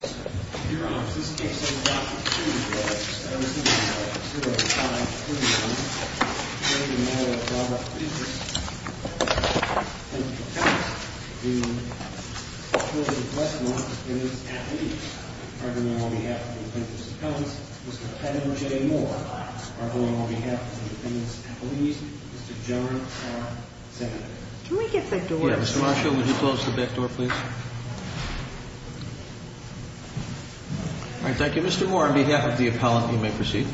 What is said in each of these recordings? Your Honor, this case is brought to you by Mr. and Mrs. Mikenas v. Village of Westmont. I'm pleased to inform you that this case is a matter of public interest. The defendant, the children of Westmont, the defendants' athletes, are going on behalf of the defendant's accounts. Mr. Kevin J. Moore, are going on behalf of the defendants' athletes. Mr. John R. Sagan. Can we get the door closed? Mr. Marshall, would you close the back door, please? All right, thank you. Mr. Moore, on behalf of the appellant, you may proceed.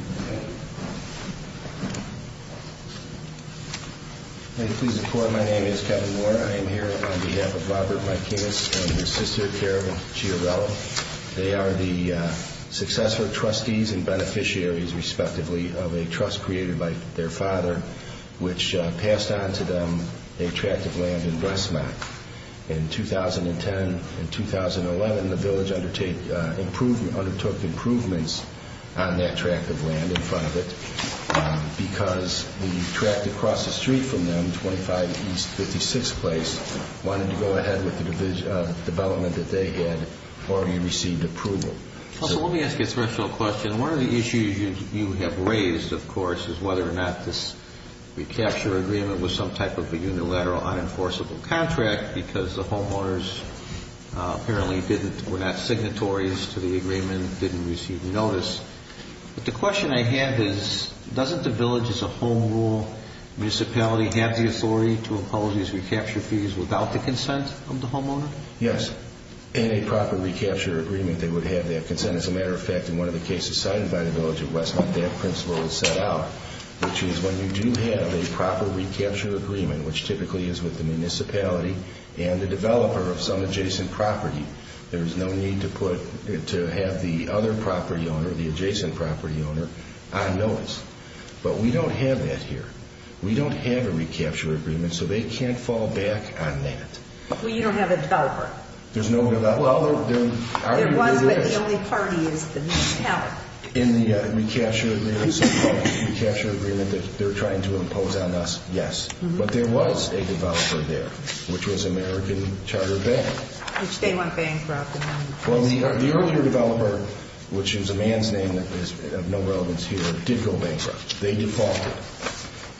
May it please the Court, my name is Kevin Moore. I am here on behalf of Robert Mikenas and his sister, Carol Giarella. They are the successor trustees and beneficiaries, respectively, of a trust created by their father, which passed on to them a tract of land in Westmont. In 2010 and 2011, the village undertook improvements on that tract of land in front of it because the tract across the street from them, 25 East 56th Place, wanted to go ahead with the development that they had, or he received approval. Let me ask you a special question. One of the issues you have raised, of course, is whether or not this recapture agreement was some type of a unilateral, unenforceable contract because the homeowners apparently were not signatories to the agreement, didn't receive notice. But the question I have is, doesn't the village, as a home rule municipality, have the authority to impose these recapture fees without the consent of the homeowner? Yes, in a proper recapture agreement, they would have that consent. As a matter of fact, in one of the cases signed by the village of Westmont, that principle was set out, which is when you do have a proper recapture agreement, which typically is with the municipality and the developer of some adjacent property, there is no need to have the other property owner, the adjacent property owner, on notice. But we don't have that here. We don't have a recapture agreement, so they can't fall back on that. Well, you don't have a developer. There's no developer. There was, but the only party is the municipality. In the recapture agreement that they're trying to impose on us, yes. But there was a developer there, which was American Charter Bank. Which they went bankrupt. Well, the earlier developer, which is a man's name that has no relevance here, did go bankrupt. They defaulted.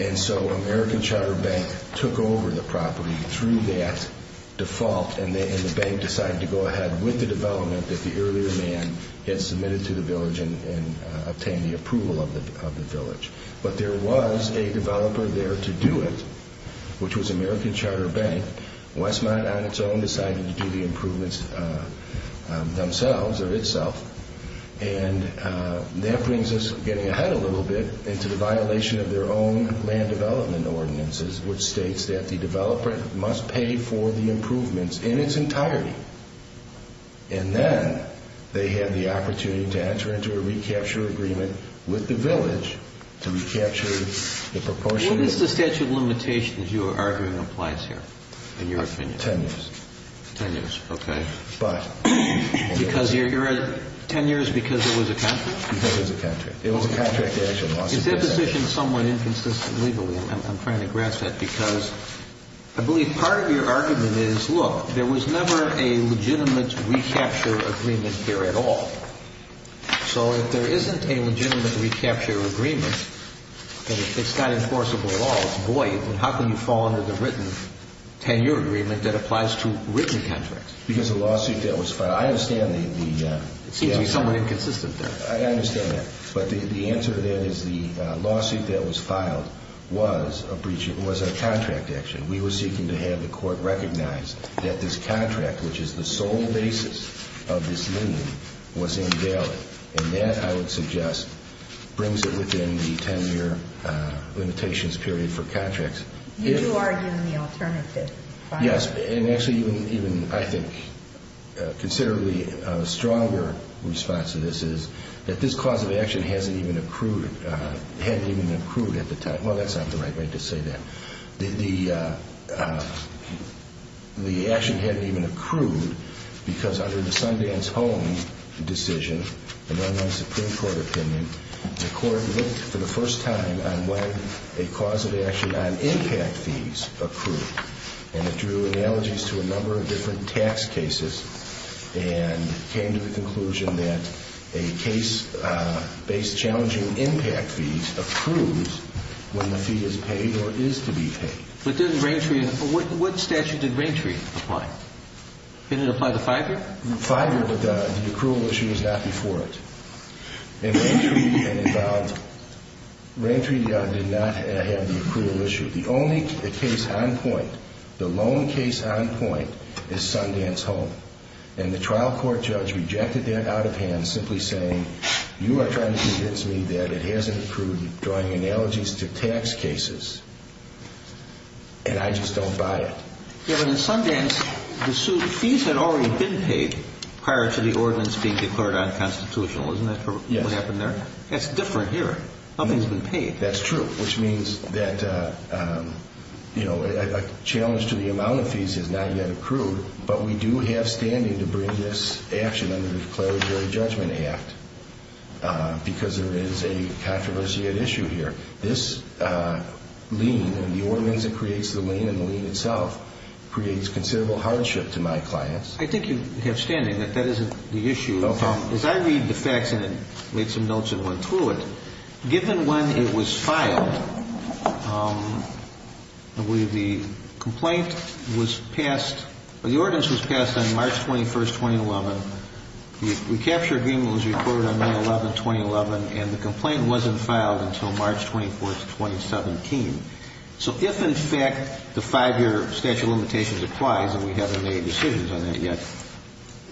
And so American Charter Bank took over the property through that default, and the bank decided to go ahead with the development that the earlier man had submitted to the village and obtained the approval of the village. But there was a developer there to do it, which was American Charter Bank. Westmont, on its own, decided to do the improvements themselves or itself. And that brings us, getting ahead a little bit, into the violation of their own land development ordinances, which states that the developer must pay for the improvements in its entirety. And then they had the opportunity to enter into a recapture agreement with the village to recapture the proportion of the village. What is the statute of limitations you are arguing applies here, in your opinion? Ten years. Ten years, okay. But. Ten years because it was a contract? Because it was a contract. It was a contract action. It's impositioned somewhat inconsistently, I'm trying to grasp that, because I believe part of your argument is, look, there was never a legitimate recapture agreement here at all. So if there isn't a legitimate recapture agreement, and it's not enforceable at all, it's void, then how can you fall under the written 10-year agreement that applies to written contracts? Because the lawsuit deal was filed. I understand the... It seems to be somewhat inconsistent there. I understand that. But the answer to that is the lawsuit that was filed was a contract action. We were seeking to have the court recognize that this contract, which is the sole basis of this lien, was invalid. And that, I would suggest, brings it within the 10-year limitations period for contracts. You do argue in the alternative. Yes. And actually even, I think, considerably stronger response to this is that this cause of action hadn't even accrued at the time. Well, that's not the right way to say that. The action hadn't even accrued because under the Sundance-Holmes decision, the Illinois Supreme Court opinion, the court looked for the first time on when a cause of action on impact fees accrued. And it drew analogies to a number of different tax cases and came to the conclusion that a case-based challenging impact fee accrues when the fee is paid or is to be paid. But what statute did Raintree apply? Didn't it apply to Fiverr? Fiverr, but the accrual issue was not before it. And Raintree did not have the accrual issue. The only case on point, the lone case on point, is Sundance-Holmes. And the trial court judge rejected that out of hand, simply saying, you are trying to convince me that it hasn't accrued, drawing analogies to tax cases, and I just don't buy it. Yeah, but in Sundance, the fees had already been paid prior to the ordinance being declared unconstitutional. Isn't that what happened there? Yes. That's different here. Nothing's been paid. That's true, which means that a challenge to the amount of fees has not yet accrued, but we do have standing to bring this action under the declaratory judgment act because there is a controversial issue here. This lien and the ordinance that creates the lien and the lien itself creates considerable hardship to my clients. I think you have standing that that isn't the issue. As I read the facts and made some notes and went through it, given when it was filed, the complaint was passed, or the ordinance was passed on March 21, 2011. The recapture agreement was recorded on May 11, 2011, and the complaint wasn't filed until March 24, 2017. So if, in fact, the five-year statute of limitations applies, and we haven't made decisions on that yet,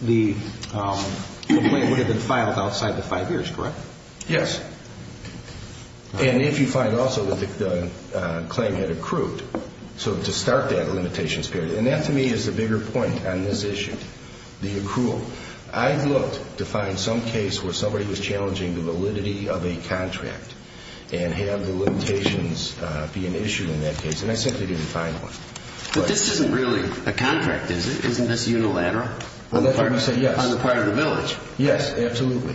the complaint would have been filed outside the five years, correct? Yes. And if you find also that the claim had accrued, so to start that limitations period, and that to me is the bigger point on this issue, the accrual. I've looked to find some case where somebody was challenging the validity of a contract and have the limitations be an issue in that case, and I simply didn't find one. But this isn't really a contract, is it? Isn't this unilateral on the part of the village? Yes, absolutely.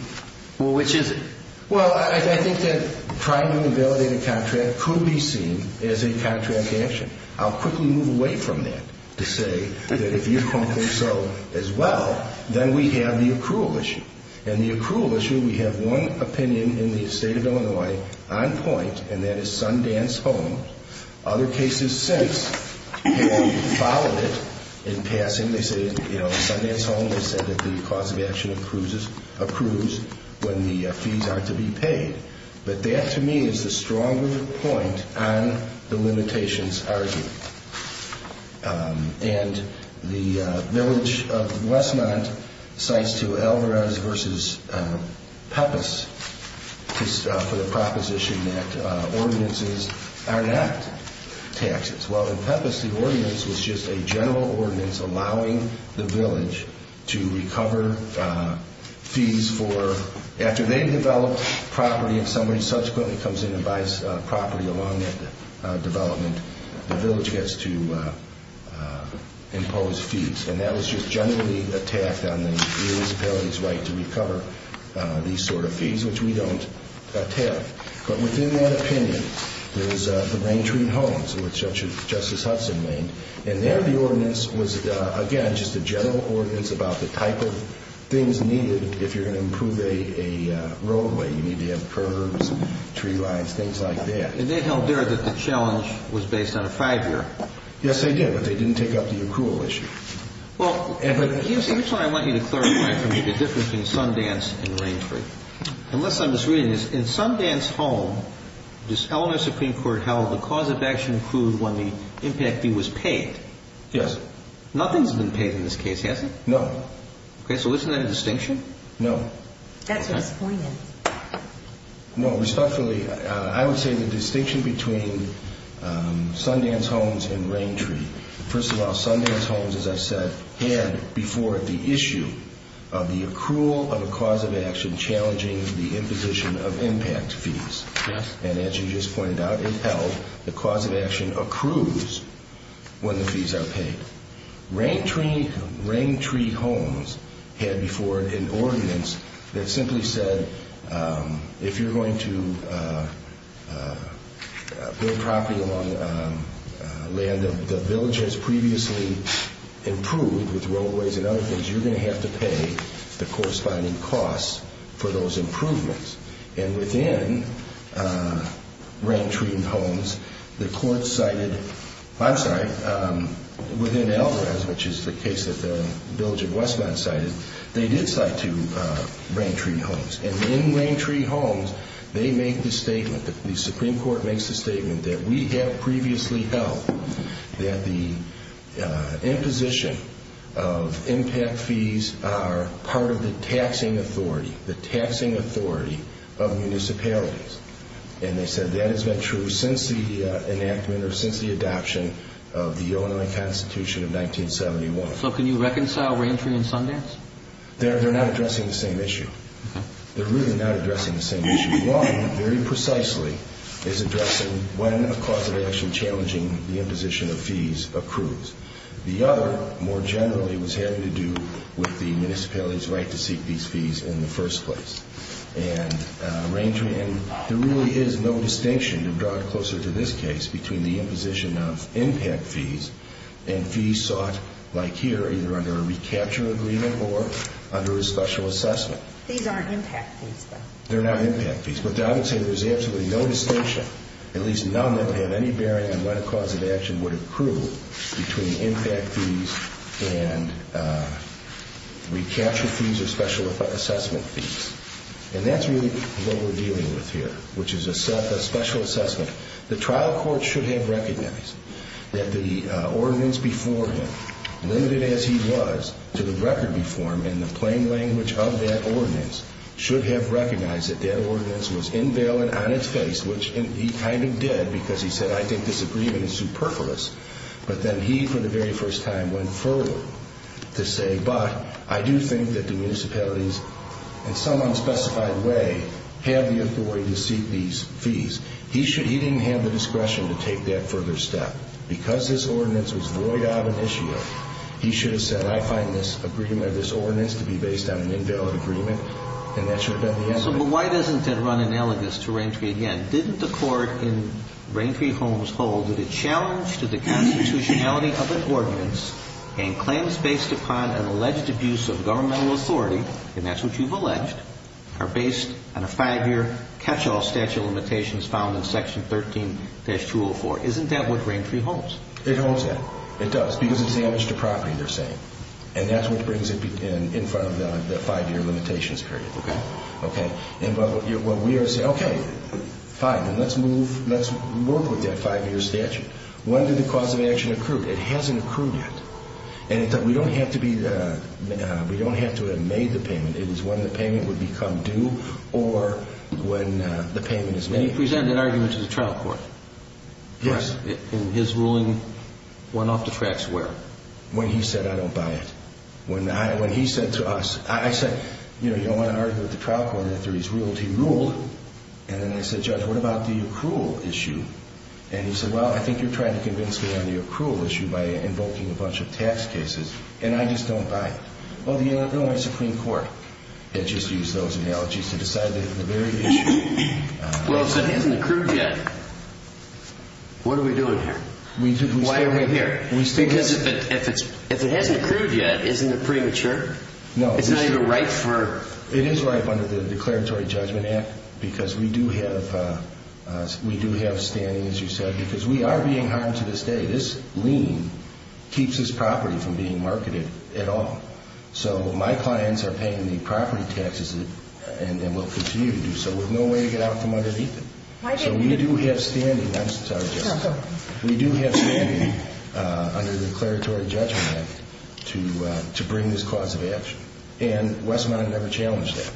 Well, which is it? Well, I think that trying to validate a contract could be seen as a contract action. I'll quickly move away from that to say that if you're comfortable so as well, then we have the accrual issue. In the accrual issue, we have one opinion in the State of Illinois on point, and that is Sundance Home. Other cases since have followed it in passing. They said, you know, Sundance Home, they said that the cause of action accrues when the fees are to be paid. But that to me is the stronger point on the limitations argument. And the village of Westmont cites to Alvarez v. Peppis for the proposition that ordinances are not taxes. Well, in Peppis, the ordinance was just a general ordinance allowing the village to recover fees for after they develop property and somebody subsequently comes in and buys property along that development, the village gets to impose fees. And that was just generally attacked on the municipality's right to recover these sort of fees, which we don't attack. But within that opinion, there's the Raintree Homes, which Justice Hudson named, and there the ordinance was, again, just a general ordinance about the type of things needed if you're going to improve a roadway. You need to have curbs and tree lines, things like that. And they held there that the challenge was based on a five-year. Yes, they did, but they didn't take up the accrual issue. Well, here's what I want you to clarify for me, the difference between Sundance and Raintree. Unless I'm misreading this, in Sundance Home, this Eleanor Supreme Court held the cause of action accrued when the impact fee was paid. Yes. Nothing's been paid in this case, has it? No. Okay, so isn't that a distinction? No. That's disappointing. No, respectfully, I would say the distinction between Sundance Homes and Raintree. First of all, Sundance Homes, as I said, had before it the issue of the accrual of a cause of action challenging the imposition of impact fees. Yes. And as you just pointed out, it held the cause of action accrues when the fees are paid. Raintree Homes had before it an ordinance that simply said if you're going to build property along land that the village has previously improved with roadways and other things, you're going to have to pay the corresponding costs for those improvements. And within Raintree Homes, the court cited, I'm sorry, within Alvarez, which is the case that the village of Westmont cited, they did cite to Raintree Homes. And in Raintree Homes, they make the statement, the Supreme Court makes the statement that we have previously held that the imposition of impact fees are part of the taxing authority. The taxing authority of municipalities. And they said that has been true since the enactment or since the adoption of the Illinois Constitution of 1971. So can you reconcile Raintree and Sundance? They're not addressing the same issue. They're really not addressing the same issue. One, very precisely, is addressing when a cause of action challenging the imposition of fees accrues. The other, more generally, was having to do with the municipality's right to seek these fees in the first place. And there really is no distinction, to draw it closer to this case, between the imposition of impact fees and fees sought, like here, either under a recapture agreement or under a special assessment. These aren't impact fees, though. They're not impact fees. But I would say there's absolutely no distinction, at least none that have any bearing on what cause of action would accrue between impact fees and recapture fees or special assessment fees. And that's really what we're dealing with here, which is a special assessment. The trial court should have recognized that the ordinance before him, limited as he was to the record before him in the plain language of that ordinance, should have recognized that that ordinance was invalid on its face, which he kind of did because he said, I think this agreement is superfluous. But then he, for the very first time, went forward to say, but I do think that the municipalities, in some unspecified way, have the authority to seek these fees. He didn't have the discretion to take that further step. Because this ordinance was void of an issue, he should have said, I find this agreement of this ordinance to be based on an invalid agreement. And that should have been the end of it. So why doesn't it run analogous to Raintree again? And didn't the court in Raintree Homes hold that a challenge to the constitutionality of an ordinance and claims based upon an alleged abuse of governmental authority, and that's what you've alleged, are based on a five-year catch-all statute of limitations found in Section 13-204. Isn't that what Raintree Homes? It holds that. It does. Because it's damage to property, they're saying. And that's what brings it in front of them, that five-year limitations period. Okay? Okay. Well, we are saying, okay, fine, let's move, let's work with that five-year statute. When did the cause of action accrue? It hasn't accrued yet. And we don't have to have made the payment. It is when the payment would become due or when the payment is made. And he presented an argument to the trial court. Yes. In his ruling, went off the tracks where? When he said, I don't buy it. When he said to us, I said, you know, you don't want to argue with the trial court after he's ruled. He ruled. And then I said, Judge, what about the accrual issue? And he said, well, I think you're trying to convince me on the accrual issue by invoking a bunch of tax cases, and I just don't buy it. Well, the Illinois Supreme Court had just used those analogies to decide that the very issue. Well, if it hasn't accrued yet, what are we doing here? Why are we here? Because if it hasn't accrued yet, isn't it premature? No. It's not even ripe for... It is ripe under the Declaratory Judgment Act because we do have standing, as you said, because we are being harmed to this day. This lien keeps this property from being marketed at all. So my clients are paying the property taxes and will continue to do so with no way to get out from underneath it. So we do have standing. We do have standing under the Declaratory Judgment Act to bring this cause of action, and Westmont never challenged that.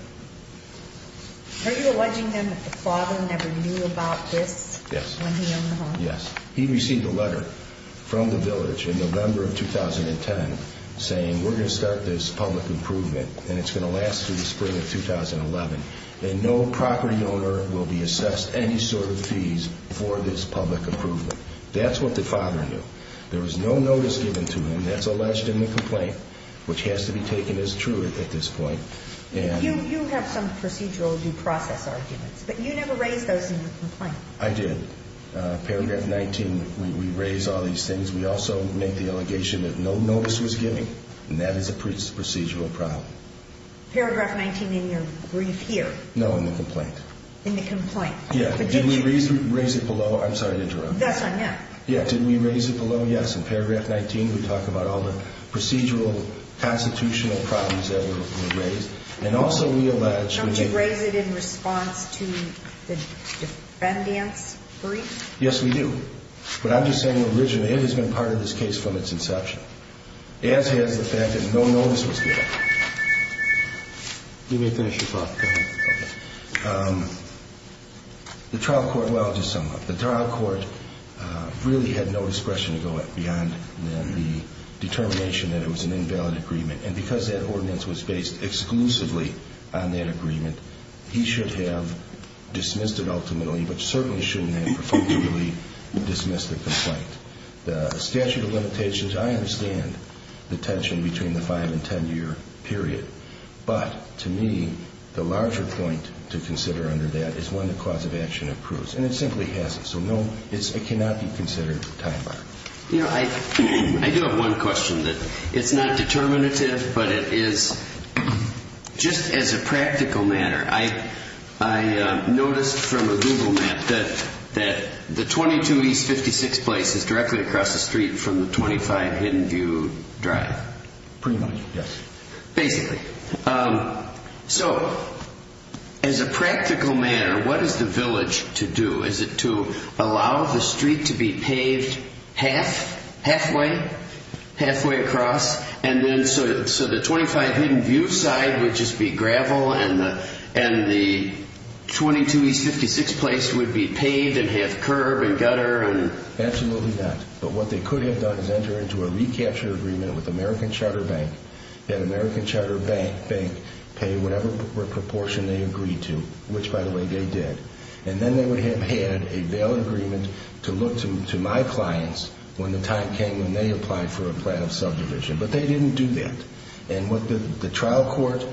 Are you alleging then that the father never knew about this when he owned the home? Yes. He received a letter from the village in November of 2010 saying, we're going to start this public improvement, and it's going to last through the spring of 2011, and no property owner will be assessed any sort of fees for this public improvement. That's what the father knew. There was no notice given to him. That's alleged in the complaint, which has to be taken as true at this point. You have some procedural due process arguments, but you never raised those in your complaint. I did. Paragraph 19, we raise all these things. We also make the allegation that no notice was given, and that is a procedural problem. Paragraph 19 in your brief here? No, in the complaint. In the complaint. Yeah. Did we raise it below? I'm sorry to interrupt. That's on you. Yeah. Did we raise it below? Yes. In Paragraph 19, we talk about all the procedural constitutional problems that were raised, and also we allege— Don't you raise it in response to the defendants' brief? Yes, we do. But I'm just saying originally, it has been part of this case from its inception, as has the fact that no notice was given. Let me finish your thought. Go ahead. Okay. The trial court—well, I'll just sum up. The trial court really had no discretion to go beyond the determination that it was an invalid agreement, and because that ordinance was based exclusively on that agreement, he should have dismissed it ultimately, but certainly shouldn't have perfunctorily dismissed the complaint. The statute of limitations, I understand the tension between the five- and ten-year period, but to me, the larger point to consider under that is when the cause of action approves, and it simply hasn't. So no, it cannot be considered a time bomb. You know, I do have one question. It's not determinative, but it is—just as a practical matter, I noticed from a Google map that the 22 East 56th Place is directly across the street from the 25 Hidden View Drive. Pretty much, yes. Basically. So as a practical matter, what is the village to do? Is it to allow the street to be paved half, halfway, halfway across, and then so the 25 Hidden View side would just be gravel, and the 22 East 56th Place would be paved in half curb and gutter? Absolutely not. But what they could have done is enter into a recapture agreement with American Charter Bank, and American Charter Bank paid whatever proportion they agreed to, which, by the way, they did. And then they would have had a valid agreement to look to my clients when the time came when they applied for a plan of subdivision. But they didn't do that. And what the trial court,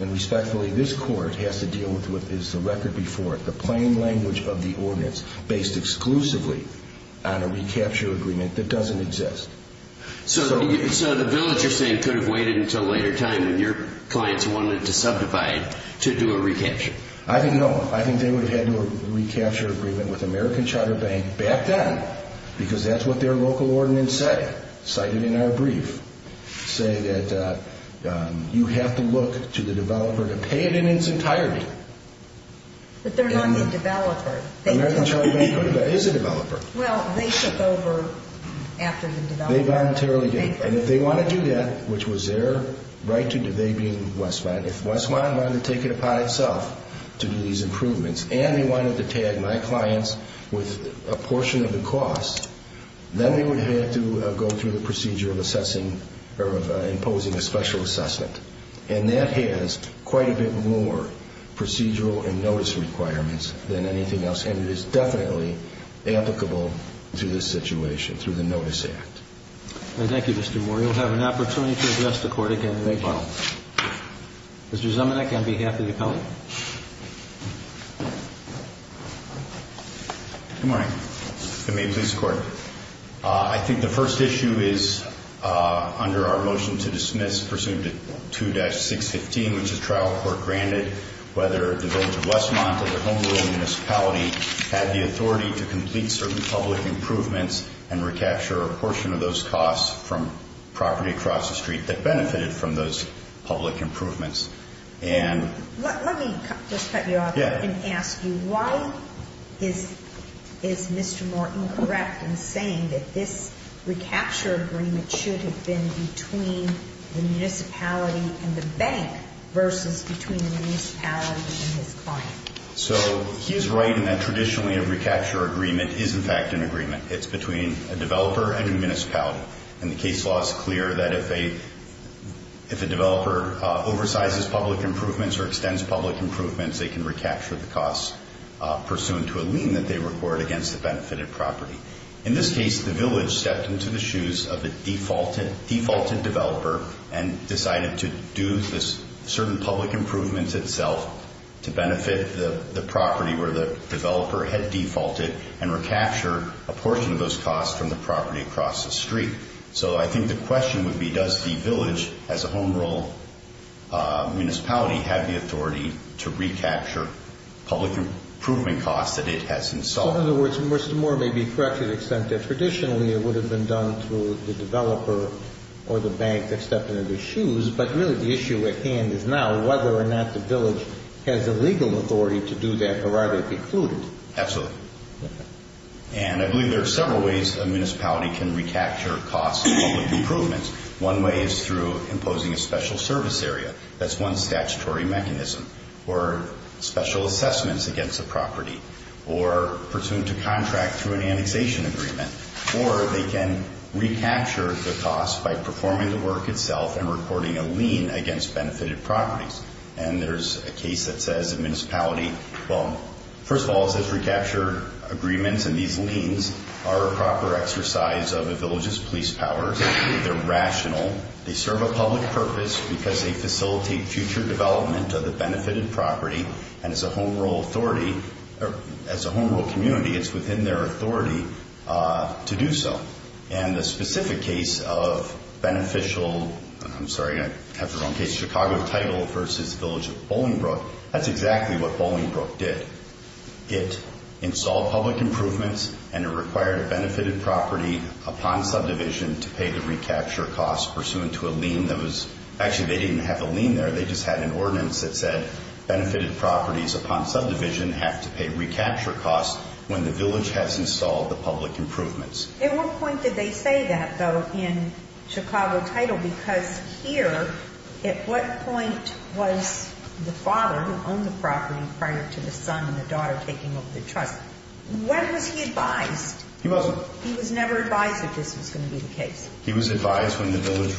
and respectfully this court, has to deal with is the record before it, the plain language of the ordinance based exclusively on a recapture agreement that doesn't exist. So the village, you're saying, could have waited until a later time when your clients wanted to subdivide to do a recapture? I think no. I think they would have had to have a recapture agreement with American Charter Bank back then because that's what their local ordinance said, cited in our brief, say that you have to look to the developer to pay it in its entirety. But they're not the developer. American Charter Bank is a developer. Well, they took over after the developer. They voluntarily did. And if they want to do that, which was their right to do, they being Westmont, if Westmont wanted to take it upon itself to do these improvements and they wanted to tag my clients with a portion of the cost, then they would have had to go through the procedure of assessing or of imposing a special assessment. And that has quite a bit more procedural and notice requirements than anything else. And it is definitely applicable to this situation through the Notice Act. Thank you, Mr. Moore. Thank you. Mr. Zemanek, on behalf of the appellant. Good morning. Good morning, please, Court. I think the first issue is under our motion to dismiss, presumed at 2-615, which the trial court granted, whether the village of Westmont or the home-grown municipality had the authority to complete certain public improvements and recapture a portion of those costs from property across the street that benefited from those public improvements. Let me just cut you off and ask you, why is Mr. Moore incorrect in saying that this recapture agreement should have been between the municipality and the bank versus between the municipality and his client? So he is right in that traditionally a recapture agreement is in fact an agreement. It's between a developer and a municipality. And the case law is clear that if a developer oversizes public improvements or extends public improvements, they can recapture the costs pursuant to a lien that they record against the benefited property. In this case, the village stepped into the shoes of the defaulted developer and decided to do this certain public improvement itself to benefit the property where the developer had defaulted and recapture a portion of those costs from the property across the street. So I think the question would be, does the village as a home-grown municipality have the authority to recapture public improvement costs that it has installed? So in other words, Mr. Moore may be correct to the extent that traditionally it would have been done through the developer or the bank that stepped into the shoes, but really the issue at hand is now whether or not the village has the legal authority to do that or are they precluded? Absolutely. And I believe there are several ways a municipality can recapture costs from public improvements. One way is through imposing a special service area. That's one statutory mechanism. Or special assessments against a property. Or pursuant to contract through an annexation agreement. Or they can recapture the costs by performing the work itself And there's a case that says a municipality, first of all, it says recapture agreements and these liens are a proper exercise of a village's police powers. They're rational. They serve a public purpose because they facilitate future development of the benefited property. And as a home-grown community, it's within their authority to do so. And the specific case of beneficial, I'm sorry, I have the wrong case, the Chicago title versus the village of Bolingbroke, that's exactly what Bolingbroke did. It installed public improvements and it required a benefited property upon subdivision to pay the recapture costs pursuant to a lien that was, actually they didn't have a lien there, they just had an ordinance that said benefited properties upon subdivision have to pay recapture costs when the village has installed the public improvements. At what point did they say that, though, in Chicago title? Because here, at what point was the father who owned the property prior to the son and the daughter taking over the trust, when was he advised? He wasn't. He was never advised that this was going to be the case. He was advised when the village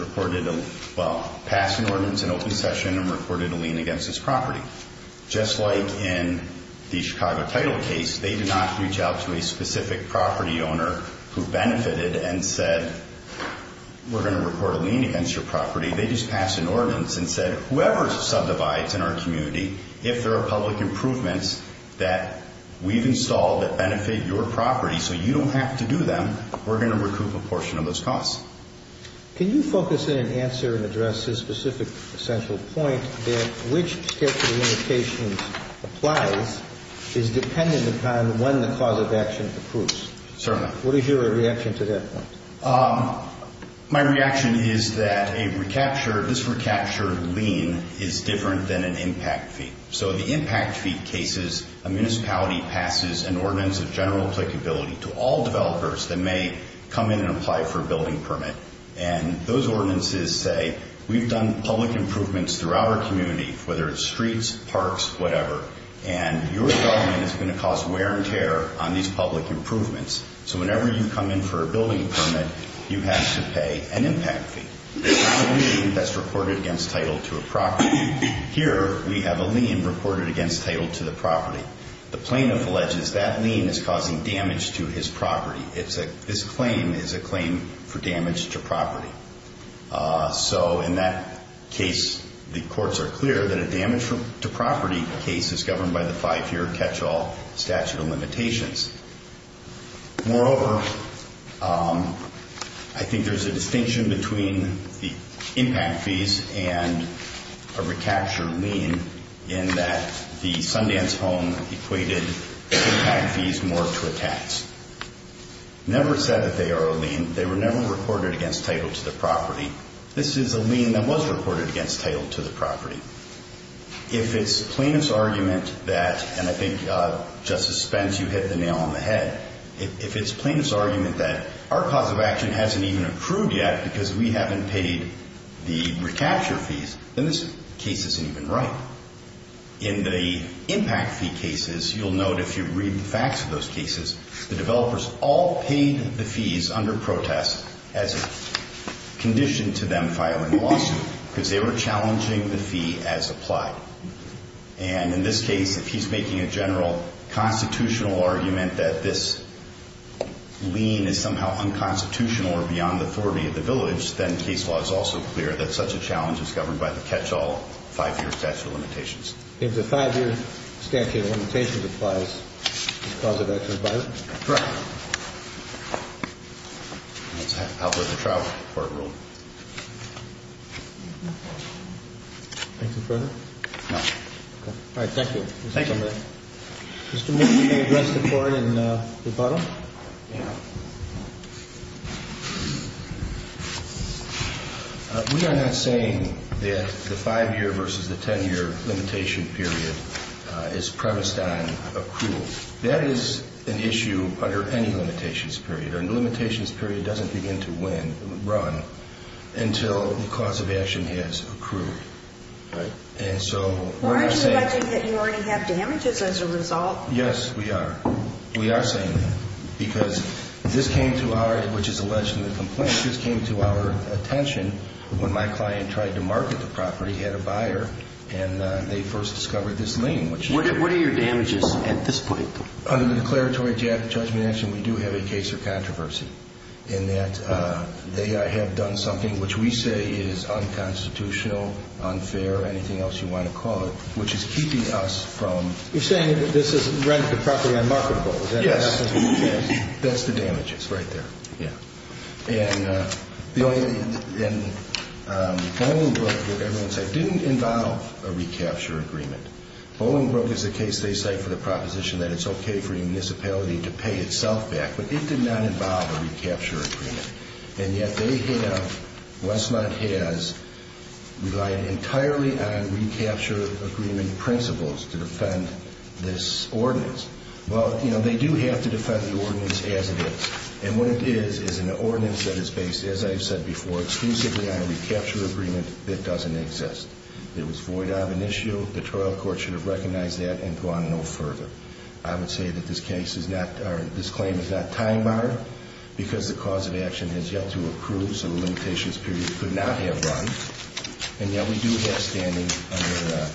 passed an ordinance in open session and reported a lien against his property. Just like in the Chicago title case, they did not reach out to a specific property owner who benefited and said, we're going to report a lien against your property. They just passed an ordinance and said, whoever subdivides in our community, if there are public improvements that we've installed that benefit your property so you don't have to do them, we're going to recoup a portion of those costs. Can you focus in and answer and address this specific essential point that which statute of limitations applies is dependent upon when the cause of action approves? Certainly. What is your reaction to that point? My reaction is that a recapture, this recapture lien is different than an impact fee. So the impact fee cases, a municipality passes an ordinance of general applicability to all developers that may come in and apply for a building permit, and those ordinances say we've done public improvements throughout our community, whether it's streets, parks, whatever, and your development is going to cause wear and tear on these public improvements. So whenever you come in for a building permit, you have to pay an impact fee. That's reported against title to a property. Here we have a lien reported against title to the property. The plaintiff alleges that lien is causing damage to his property. This claim is a claim for damage to property. So in that case, the courts are clear that a damage to property case is governed by the five-year catch-all statute of limitations. Moreover, I think there's a distinction between the impact fees and a recapture lien in that the Sundance Home equated impact fees more to a tax. Never said that they are a lien. They were never reported against title to the property. This is a lien that was reported against title to the property. If it's plaintiff's argument that, and I think Justice Spence, you hit the nail on the head, if it's plaintiff's argument that our cause of action hasn't even approved yet because we haven't paid the recapture fees, then this case isn't even right. In the impact fee cases, you'll note if you read the facts of those cases, the developers all paid the fees under protest as a condition to them filing a lawsuit because they were challenging the fee as applied. And in this case, if he's making a general constitutional argument that this lien is somehow unconstitutional or beyond the authority of the village, then case law is also clear that such a challenge is governed by the catch-all five-year statute of limitations. If the five-year statute of limitations applies, the cause of action is violent? Correct. That's how the trial court ruled. No. All right. Thank you. Thank you. Mr. Mitchell, can you address the Court in rebuttal? Yeah. We are not saying that the five-year versus the ten-year limitation period is premised on approval. That is an issue under any limitations period, and the limitations period doesn't begin to run until the cause of action has approved. Aren't you alleging that you already have damages as a result? Yes, we are. We are saying that because this came to our, which is alleged in the complaint, this came to our attention when my client tried to market the property, had a buyer, and they first discovered this lien. What are your damages at this point? Under the declaratory judgment action, we do have a case of controversy in that they have done something which we say is unconstitutional, unfair, or anything else you want to call it, which is keeping us from... You're saying that this has rendered the property unmarketable. Yes. That's the damages right there. Yeah. And Bolingbroke, as everyone said, didn't involve a recapture agreement. Bolingbroke is a case they cite for the proposition that it's okay for a municipality to pay itself back, but it did not involve a recapture agreement. And yet they have, Westland has, relied entirely on recapture agreement principles to defend this ordinance. Well, you know, they do have to defend the ordinance as it is. And what it is is an ordinance that is based, as I've said before, exclusively on a recapture agreement that doesn't exist. It was void of an issue. The trial court should have recognized that and gone no further. I would say that this case is not, or this claim is not time barred because the cause of action has yet to approve, so the limitations period could not have run. And yet we do have standing under the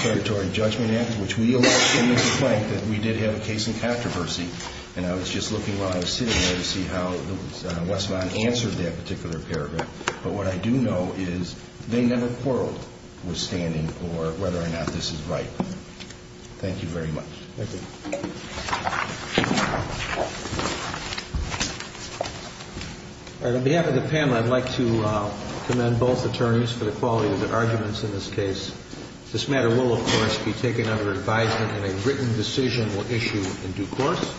Predatory Judgment Act, which we allege in this complaint that we did have a case in controversy. And I was just looking while I was sitting there to see how Westland answered that particular paragraph. But what I do know is they never quarreled with standing for whether or not this is right. Thank you very much. Thank you. On behalf of the panel, I'd like to commend both attorneys for the quality of their arguments in this case. This matter will, of course, be taken under advisement and a written decision will issue in due course.